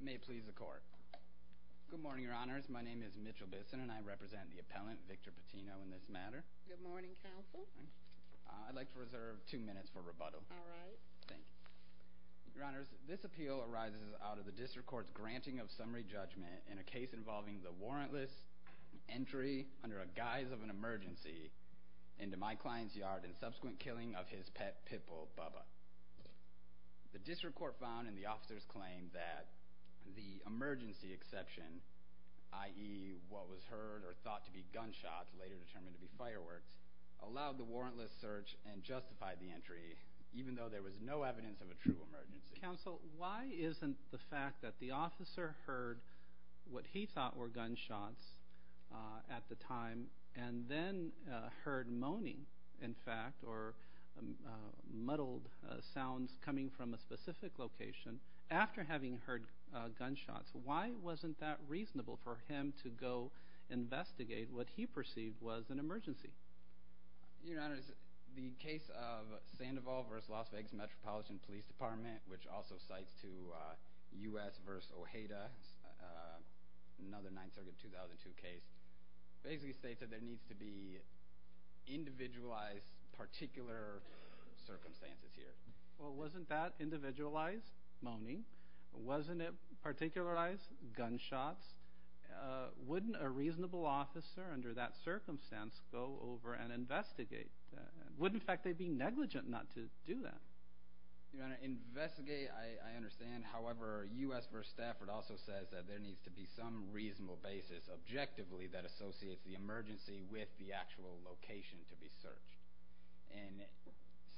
May it please the court. Good morning, your honors. My name is Mitchell Bisson, and I represent the appellant, Victor Patino, in this matter. Good morning, counsel. I'd like to reserve two minutes for rebuttal. All right. Thank you. Your honors, this appeal arises out of the district court's granting of summary judgment in a case involving the warrantless entry, under a guise of an emergency, into my client's yard in subsequent killing of his pet pit bull, Bubba. The district court found in the officer's claim that the emergency exception, i.e. what was heard or thought to be gunshots, later determined to be fireworks, allowed the warrantless search and justified the entry, even though there was no evidence of a true emergency. Counsel, why isn't the fact that the officer heard what he thought were gunshots at the time and then heard moaning, in fact, or muddled sounds coming from a specific location, after having heard gunshots, why wasn't that reasonable for him to go investigate what he perceived was an emergency? Your honors, the case of Sandoval v. Las Vegas Metropolitan Police Department, which also cites to U.S. v. Ojeda, another 9th Circuit 2002 case, basically states that there needs to be individualized particular circumstances here. Well, wasn't that individualized moaning? Wasn't it particularized gunshots? Wouldn't a reasonable officer under that circumstance go over and investigate that? Wouldn't, in fact, they be negligent not to do that? Your honor, investigate, I understand. However, U.S. v. Stafford also says that there needs to be some reasonable basis, objectively, that associates the emergency with the actual location to be searched. In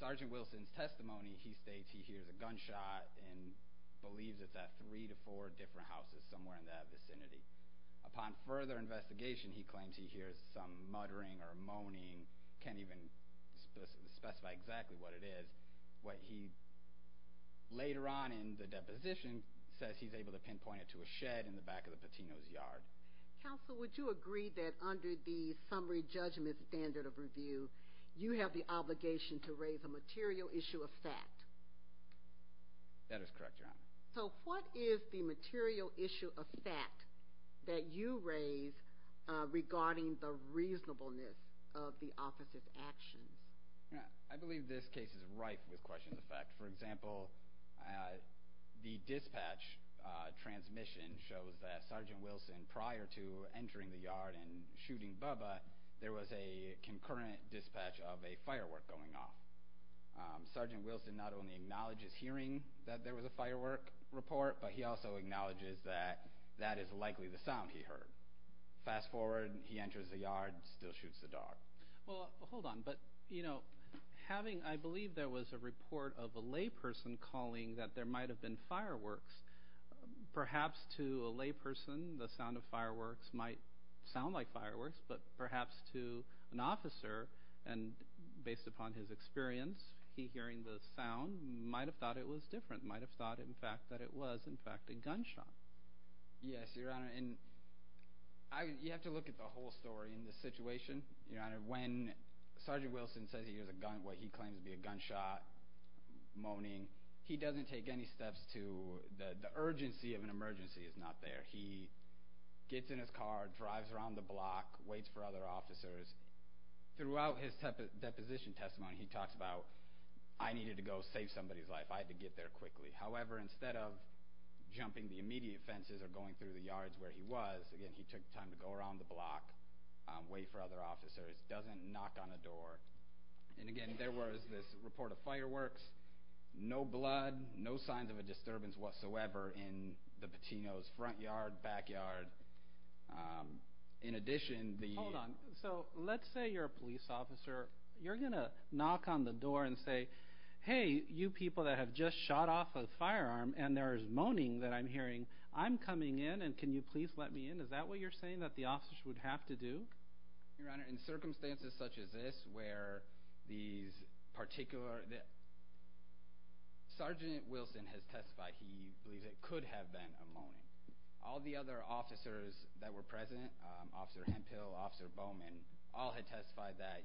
Sergeant Wilson's testimony, he states he hears a gunshot and believes it's at three to four different houses somewhere in that vicinity. Upon further investigation, he claims he hears some muttering or moaning, can't even specify exactly what it is. What he later on in the deposition says he's able to pinpoint it to a shed in the back of the Patino's yard. Counsel, would you agree that under the summary judgment standard of review, you have the obligation to raise a material issue of fact? That is correct, your honor. So what is the material issue of fact that you raise regarding the reasonableness of the officer's actions? I believe this case is rife with questions of fact. For example, the dispatch transmission shows that Sergeant Wilson, prior to entering the yard and shooting Bubba, there was a concurrent dispatch of a firework going off. Sergeant Wilson not only acknowledges hearing that there was a firework report, but he also acknowledges that that is likely the sound he heard. Fast forward, he enters the yard, still shoots the dog. Well, hold on. But, you know, I believe there was a report of a layperson calling that there might have been fireworks. Perhaps to a layperson, the sound of fireworks might sound like fireworks, but perhaps to an officer, and based upon his experience, he hearing the sound might have thought it was different, might have thought, in fact, that it was, in fact, a gunshot. Yes, your honor, and you have to look at the whole story in this situation, your honor, when Sergeant Wilson says he hears a gun, what he claims to be a gunshot moaning, he doesn't take any steps to the urgency of an emergency is not there. He gets in his car, drives around the block, waits for other officers. Throughout his deposition testimony, he talks about, I needed to go save somebody's life. I had to get there quickly. However, instead of jumping the immediate fences or going through the yards where he was, again, he took time to go around the block, wait for other officers, doesn't knock on a door. Again, there was this report of fireworks, no blood, no signs of a disturbance whatsoever in the Patino's front yard, back yard. In addition, the- Hold on. Let's say you're a police officer. You're going to knock on the door and say, hey, you people that have just shot off a firearm, and there is moaning that I'm hearing, I'm coming in and can you please let me in? Is that what you're saying that the officers would have to do? Your Honor, in circumstances such as this where these particular- Sergeant Wilson has testified he believes it could have been a moaning. All the other officers that were present, Officer Hemphill, Officer Bowman, all had testified that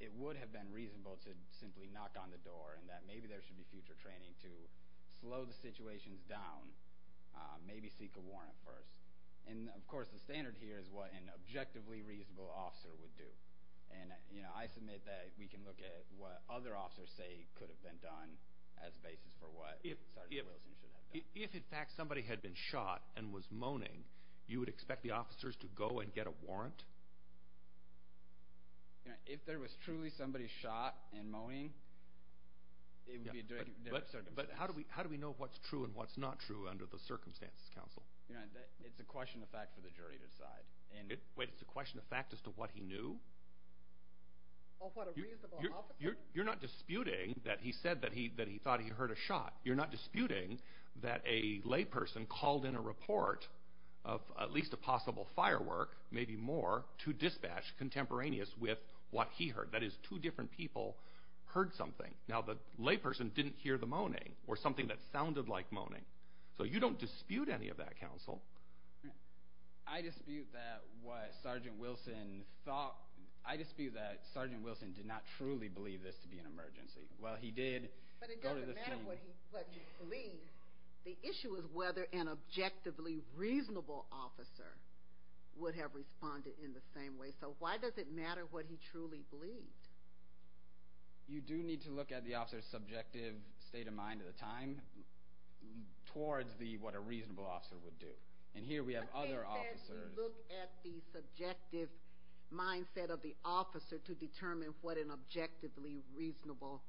it would have been reasonable to simply knock on the door and that maybe there should be future training to slow the situations down, maybe seek a warrant first. Of course, the standard here is what an objectively reasonable officer would do. I submit that we can look at what other officers say could have been done as basis for what Sergeant Wilson should have done. If, in fact, somebody had been shot and was moaning, you would expect the officers to go and get a warrant? If there was truly somebody shot and moaning, it would be a different circumstance. But how do we know what's true and what's not true under the Circumstances Council? Your Honor, it's a question of fact for the jury to decide. Wait, it's a question of fact as to what he knew? What, a reasonable officer? You're not disputing that he said that he thought he heard a shot. You're not disputing that a layperson called in a report of at least a possible firework, maybe more, to dispatch contemporaneous with what he heard. That is, two different people heard something. Now, the layperson didn't hear the moaning or something that sounded like moaning. So you don't dispute any of that, Counsel. I dispute that what Sergeant Wilson thought. I dispute that Sergeant Wilson did not truly believe this to be an emergency. While he did go to the scene. But it doesn't matter what you believe. The issue is whether an objectively reasonable officer would have responded in the same way. So why does it matter what he truly believed? You do need to look at the officer's subjective state of mind at the time towards what a reasonable officer would do. And here we have other officers. Look at the subjective mindset of the officer to determine what an objectively reasonable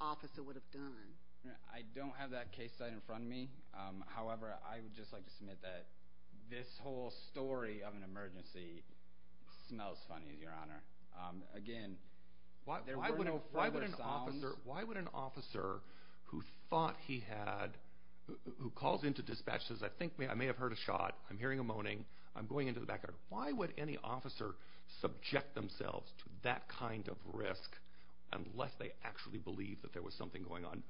officer would have done. I don't have that case site in front of me. However, I would just like to submit that this whole story of an emergency smells funny, Your Honor. Again, there were no further sounds. Why would an officer who thought he had, who calls in to dispatch and says, I think I may have heard a shot, I'm hearing a moaning, I'm going into the backyard. Why would any officer subject themselves to that kind of risk unless they actually believed that there was something going on?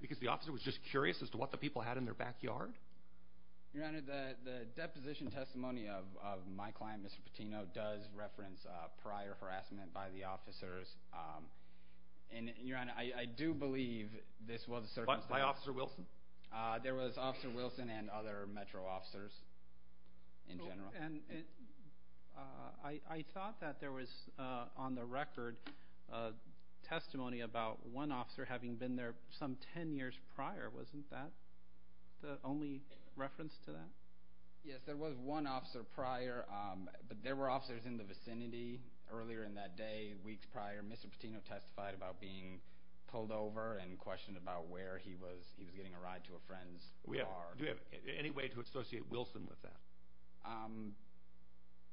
Because the officer was just curious as to what the people had in their backyard? Your Honor, the deposition testimony of my client, Mr. Patino, does reference prior harassment by the officers. And, Your Honor, I do believe this was a circumstance. By Officer Wilson? There was Officer Wilson and other Metro officers in general. I thought that there was, on the record, testimony about one officer having been there some ten years prior. Wasn't that the only reference to that? Yes, there was one officer prior. But there were officers in the vicinity earlier in that day, weeks prior. Mr. Patino testified about being pulled over Do you have any way to associate Wilson with that?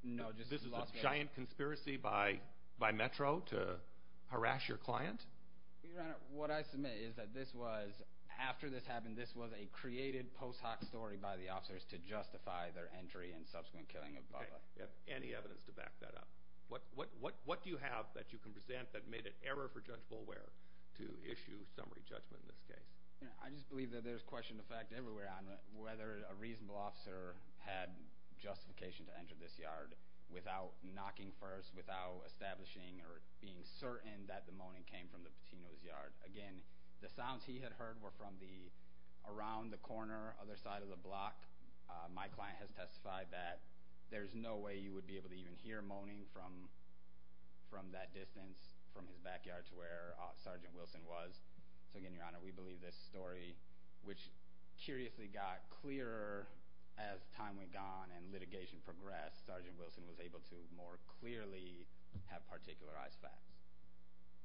No. This is a giant conspiracy by Metro to harass your client? Your Honor, what I submit is that this was, after this happened, this was a created post hoc story by the officers to justify their entry and subsequent killing of Bubba. Any evidence to back that up? What do you have that you can present that made it error for Judge Boulware to issue summary judgment in this case? I just believe that there's question of fact everywhere on whether a reasonable officer had justification to enter this yard without knocking first, without establishing or being certain that the moaning came from the Patino's yard. Again, the sounds he had heard were from around the corner, other side of the block. My client has testified that there's no way you would be able to even hear moaning from that distance from his backyard to where Sergeant Wilson was. So again, Your Honor, we believe this story, which curiously got clearer as time went on and litigation progressed, Sergeant Wilson was able to more clearly have particularized facts.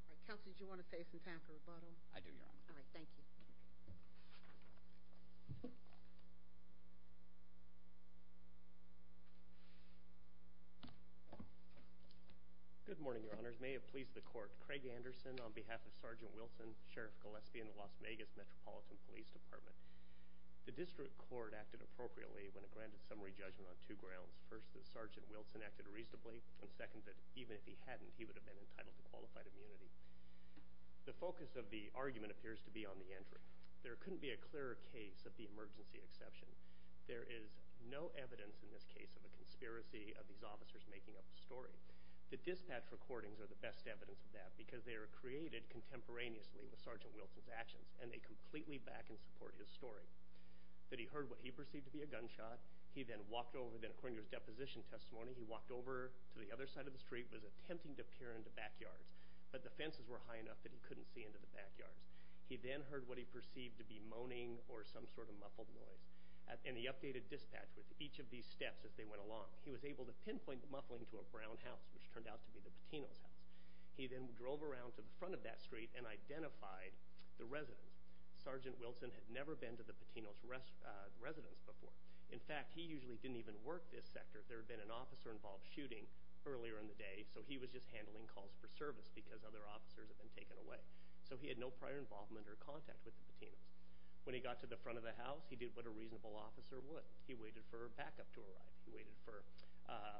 All right, Kelsey, did you want to take some time for rebuttal? I do, Your Honor. All right, thank you. Good morning, Your Honors. May it please the court, Craig Anderson on behalf of Sergeant Wilson and Sheriff Gillespie in the Las Vegas Metropolitan Police Department. The district court acted appropriately when it granted summary judgment on two grounds. First, that Sergeant Wilson acted reasonably, and second, that even if he hadn't, he would have been entitled to qualified immunity. The focus of the argument appears to be on the entry. There couldn't be a clearer case of the emergency exception. There is no evidence in this case of a conspiracy of these officers making up a story. The dispatch recordings are the best evidence of that because they are created contemporaneously with Sergeant Wilson's actions, and they completely back and support his story. That he heard what he perceived to be a gunshot. He then walked over, then according to his deposition testimony, he walked over to the other side of the street, was attempting to peer into backyards, but the fences were high enough that he couldn't see into the backyards. He then heard what he perceived to be moaning or some sort of muffled noise, and he updated dispatch with each of these steps as they went along. He was able to pinpoint the muffling to a brown house, which turned out to be the Patino's house. He then drove around to the front of that street and identified the residence. Sergeant Wilson had never been to the Patino's residence before. In fact, he usually didn't even work this sector. There had been an officer-involved shooting earlier in the day, so he was just handling calls for service because other officers had been taken away. So he had no prior involvement or contact with the Patinos. When he got to the front of the house, he did what a reasonable officer would. He waited for a backup to arrive. He waited for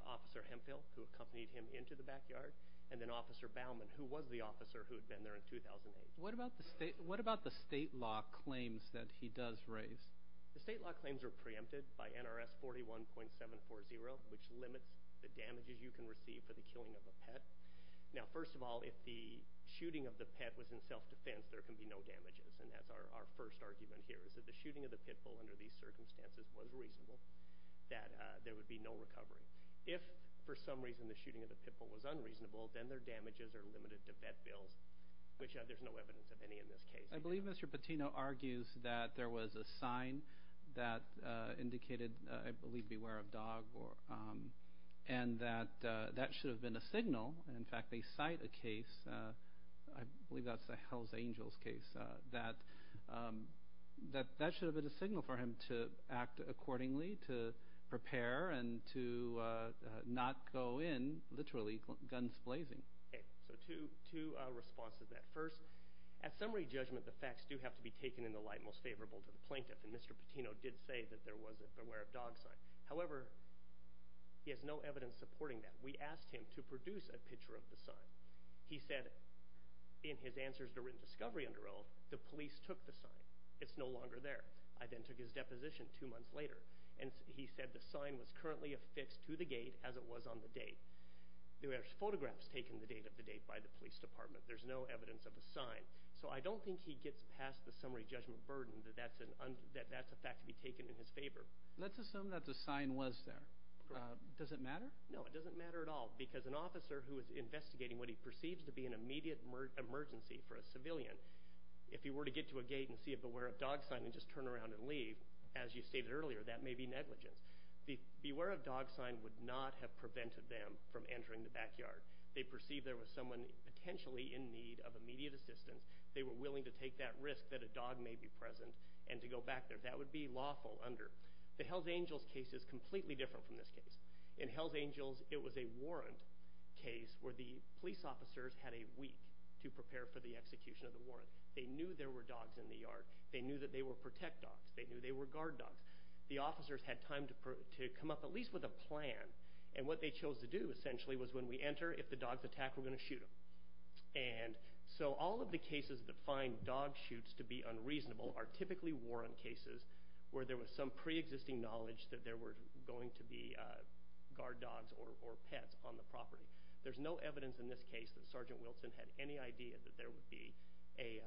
Officer Hemphill, who accompanied him into the backyard, and then Officer Baumann, who was the officer who had been there in 2008. What about the state law claims that he does raise? The state law claims are preempted by NRS 41.740, which limits the damages you can receive for the killing of a pet. Now, first of all, if the shooting of the pet was in self-defense, there can be no damages, and that's our first argument here is that the shooting of the pit bull under these circumstances was reasonable, that there would be no recovery. If, for some reason, the shooting of the pit bull was unreasonable, then their damages are limited to vet bills, which there's no evidence of any in this case. I believe Mr. Patino argues that there was a sign that indicated, I believe, beware of dog, and that that should have been a signal. In fact, they cite a case, I believe that's a Hells Angels case, that that should have been a signal for him to act accordingly, to prepare, and to not go in, literally, guns blazing. So two responses to that. First, at summary judgment, the facts do have to be taken in the light most favorable to the plaintiff, and Mr. Patino did say that there was a beware of dog sign. However, he has no evidence supporting that. We asked him to produce a picture of the sign. He said, in his answers to written discovery under oath, the police took the sign. It's no longer there. I then took his deposition two months later, and he said the sign was currently affixed to the gate as it was on the date. There were photographs taken the date of the date by the police department. There's no evidence of the sign. So I don't think he gets past the summary judgment burden that that's a fact to be taken in his favor. Let's assume that the sign was there. Does it matter? No, it doesn't matter at all, because an officer who is investigating what he perceives to be an immediate emergency for a civilian, if he were to get to a gate and see a beware of dog sign and just turn around and leave, as you stated earlier, that may be negligence. The beware of dog sign would not have prevented them from entering the backyard. They perceived there was someone potentially in need of immediate assistance. They were willing to take that risk that a dog may be present and to go back there. That would be lawful under. The Hells Angels case is completely different from this case. In Hells Angels, it was a warrant case where the police officers had a week to prepare for the execution of the warrant. They knew there were dogs in the yard. They knew that they were protect dogs. They knew they were guard dogs. The officers had time to come up at least with a plan, and what they chose to do essentially was when we enter, if the dogs attack, we're going to shoot them. And so all of the cases that find dog shoots to be unreasonable are typically warrant cases where there was some preexisting knowledge that there were going to be guard dogs or pets on the property. There's no evidence in this case that Sergeant Wilson had any idea that there would be a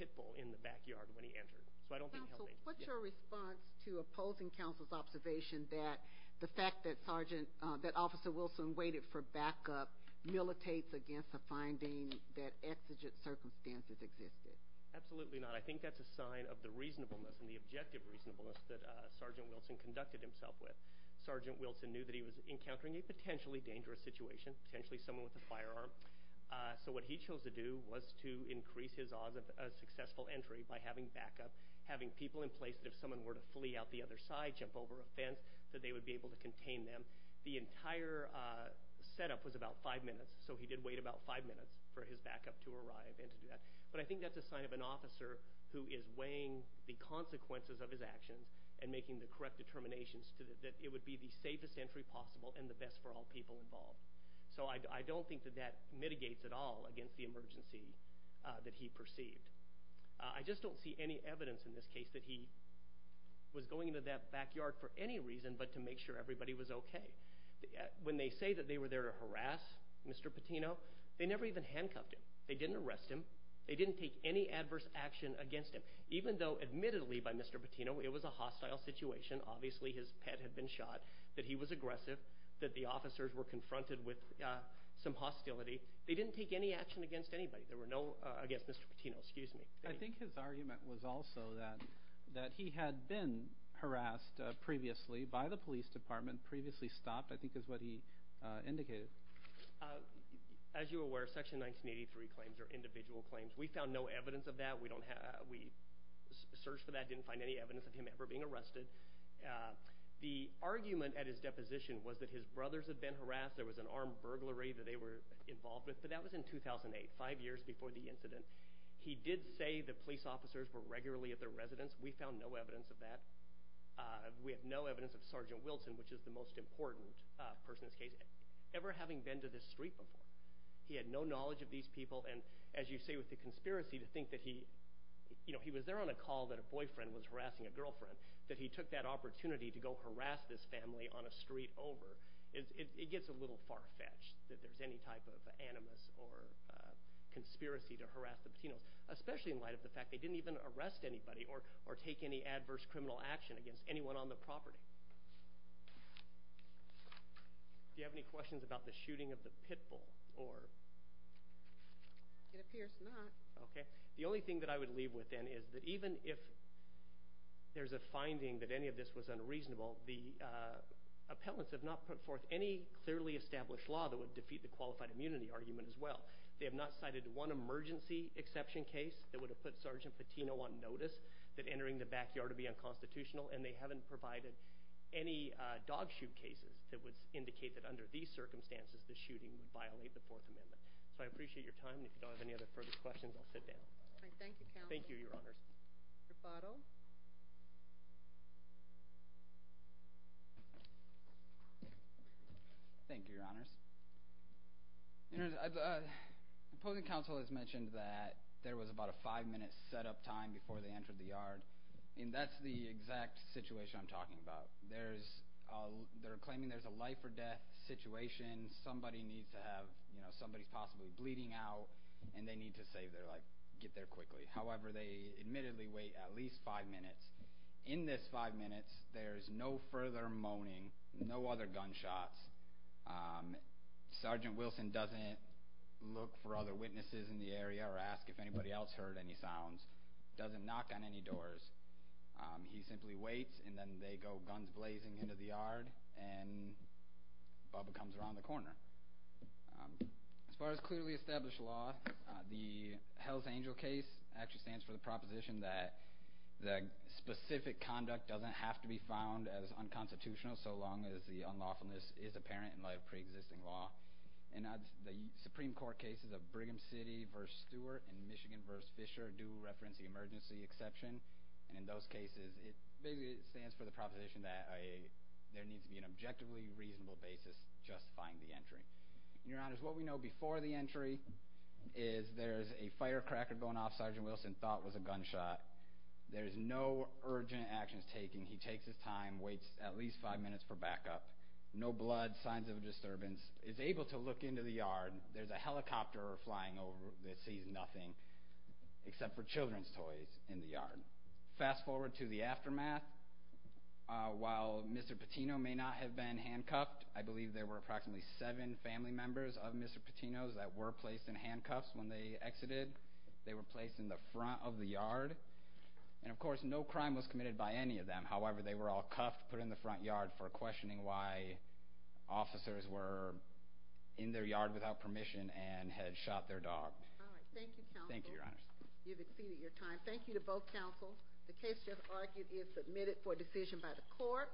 pit bull in the backyard when he entered. So I don't think Hells Angels. Counsel, what's your response to opposing counsel's observation that the fact that Sergeant, that Officer Wilson waited for backup militates against a finding that exigent circumstances existed? Absolutely not. I think that's a sign of the reasonableness and the objective reasonableness that Sergeant Wilson conducted himself with. Sergeant Wilson knew that he was encountering a potentially dangerous situation, potentially someone with a firearm. So what he chose to do was to increase his odds of a successful entry by having backup, having people in place that if someone were to flee out the other side, jump over a fence, that they would be able to contain them. The entire setup was about five minutes, so he did wait about five minutes for his backup to arrive and to do that. But I think that's a sign of an officer who is weighing the consequences of his actions and making the correct determinations that it would be the safest entry possible and the best for all people involved. So I don't think that that mitigates at all against the emergency that he perceived. I just don't see any evidence in this case that he was going into that backyard for any reason but to make sure everybody was okay. When they say that they were there to harass Mr. Patino, they never even handcuffed him. They didn't arrest him. They didn't take any adverse action against him, even though admittedly by Mr. Patino it was a hostile situation. Obviously his pet had been shot, that he was aggressive, that the officers were confronted with some hostility. They didn't take any action against anybody. There were no against Mr. Patino. I think his argument was also that he had been harassed previously by the police department, previously stopped, I think is what he indicated. As you are aware, Section 1983 claims are individual claims. We found no evidence of that. We searched for that and didn't find any evidence of him ever being arrested. The argument at his deposition was that his brothers had been harassed. There was an armed burglary that they were involved with, but that was in 2008, five years before the incident. He did say that police officers were regularly at their residence. We found no evidence of that. We have no evidence of Sergeant Wilson, which is the most important person in this case. Ever having been to this street before, he had no knowledge of these people. And as you say, with the conspiracy to think that he was there on a call that a boyfriend was harassing a girlfriend, that he took that opportunity to go harass this family on a street over, it gets a little far-fetched that there's any type of animus or conspiracy to harass the Patinos, especially in light of the fact they didn't even arrest anybody or take any adverse criminal action against anyone on the property. Do you have any questions about the shooting of the Pitbull? It appears not. Okay. The only thing that I would leave with then is that even if there's a finding that any of this was unreasonable, the appellants have not put forth any clearly established law that would defeat the qualified immunity argument as well. They have not cited one emergency exception case that would have put Sergeant Patino on notice that entering the backyard would be unconstitutional, and they haven't provided any dog shoot cases that would indicate that under these circumstances, the shooting would violate the Fourth Amendment. So I appreciate your time. If you don't have any other further questions, I'll sit down. All right. Thank you, counsel. Thank you, Your Honors. Thank you, Your Honors. Your Honors, opposing counsel has mentioned that there was about a five-minute set-up time before they entered the yard, and that's the exact situation I'm talking about. They're claiming there's a life-or-death situation. Somebody's possibly bleeding out, and they need to save their life, get there quickly. However, they admittedly wait at least five minutes. In this five minutes, there's no further moaning, no other gunshots. Sergeant Wilson doesn't look for other witnesses in the area or ask if anybody else heard any sounds, doesn't knock on any doors. He simply waits, and then they go guns blazing into the yard, and Bubba comes around the corner. As far as clearly established law, the Hell's Angel case actually stands for the proposition that the specific conduct doesn't have to be found as unconstitutional so long as the unlawfulness is apparent in light of preexisting law. The Supreme Court cases of Brigham City v. Stewart and Michigan v. Fisher do reference the emergency exception, and in those cases, it basically stands for the proposition that there needs to be an objectively reasonable basis justifying the entry. Your Honors, what we know before the entry is there's a firecracker going off Sergeant Wilson thought was a gunshot. There's no urgent actions taken. He takes his time, waits at least five minutes for backup. No blood, signs of a disturbance. Is able to look into the yard. There's a helicopter flying over that sees nothing except for children's toys in the yard. Fast forward to the aftermath. While Mr. Patino may not have been handcuffed, I believe there were approximately seven family members of Mr. Patino's that were placed in handcuffs when they exited. They were placed in the front of the yard. And, of course, no crime was committed by any of them. However, they were all cuffed, put in the front yard for questioning why officers were in their yard without permission and had shot their dog. All right. Thank you, counsel. Thank you, Your Honors. You've exceeded your time. Thank you to both counsels. The case just argued is submitted for decision by the court.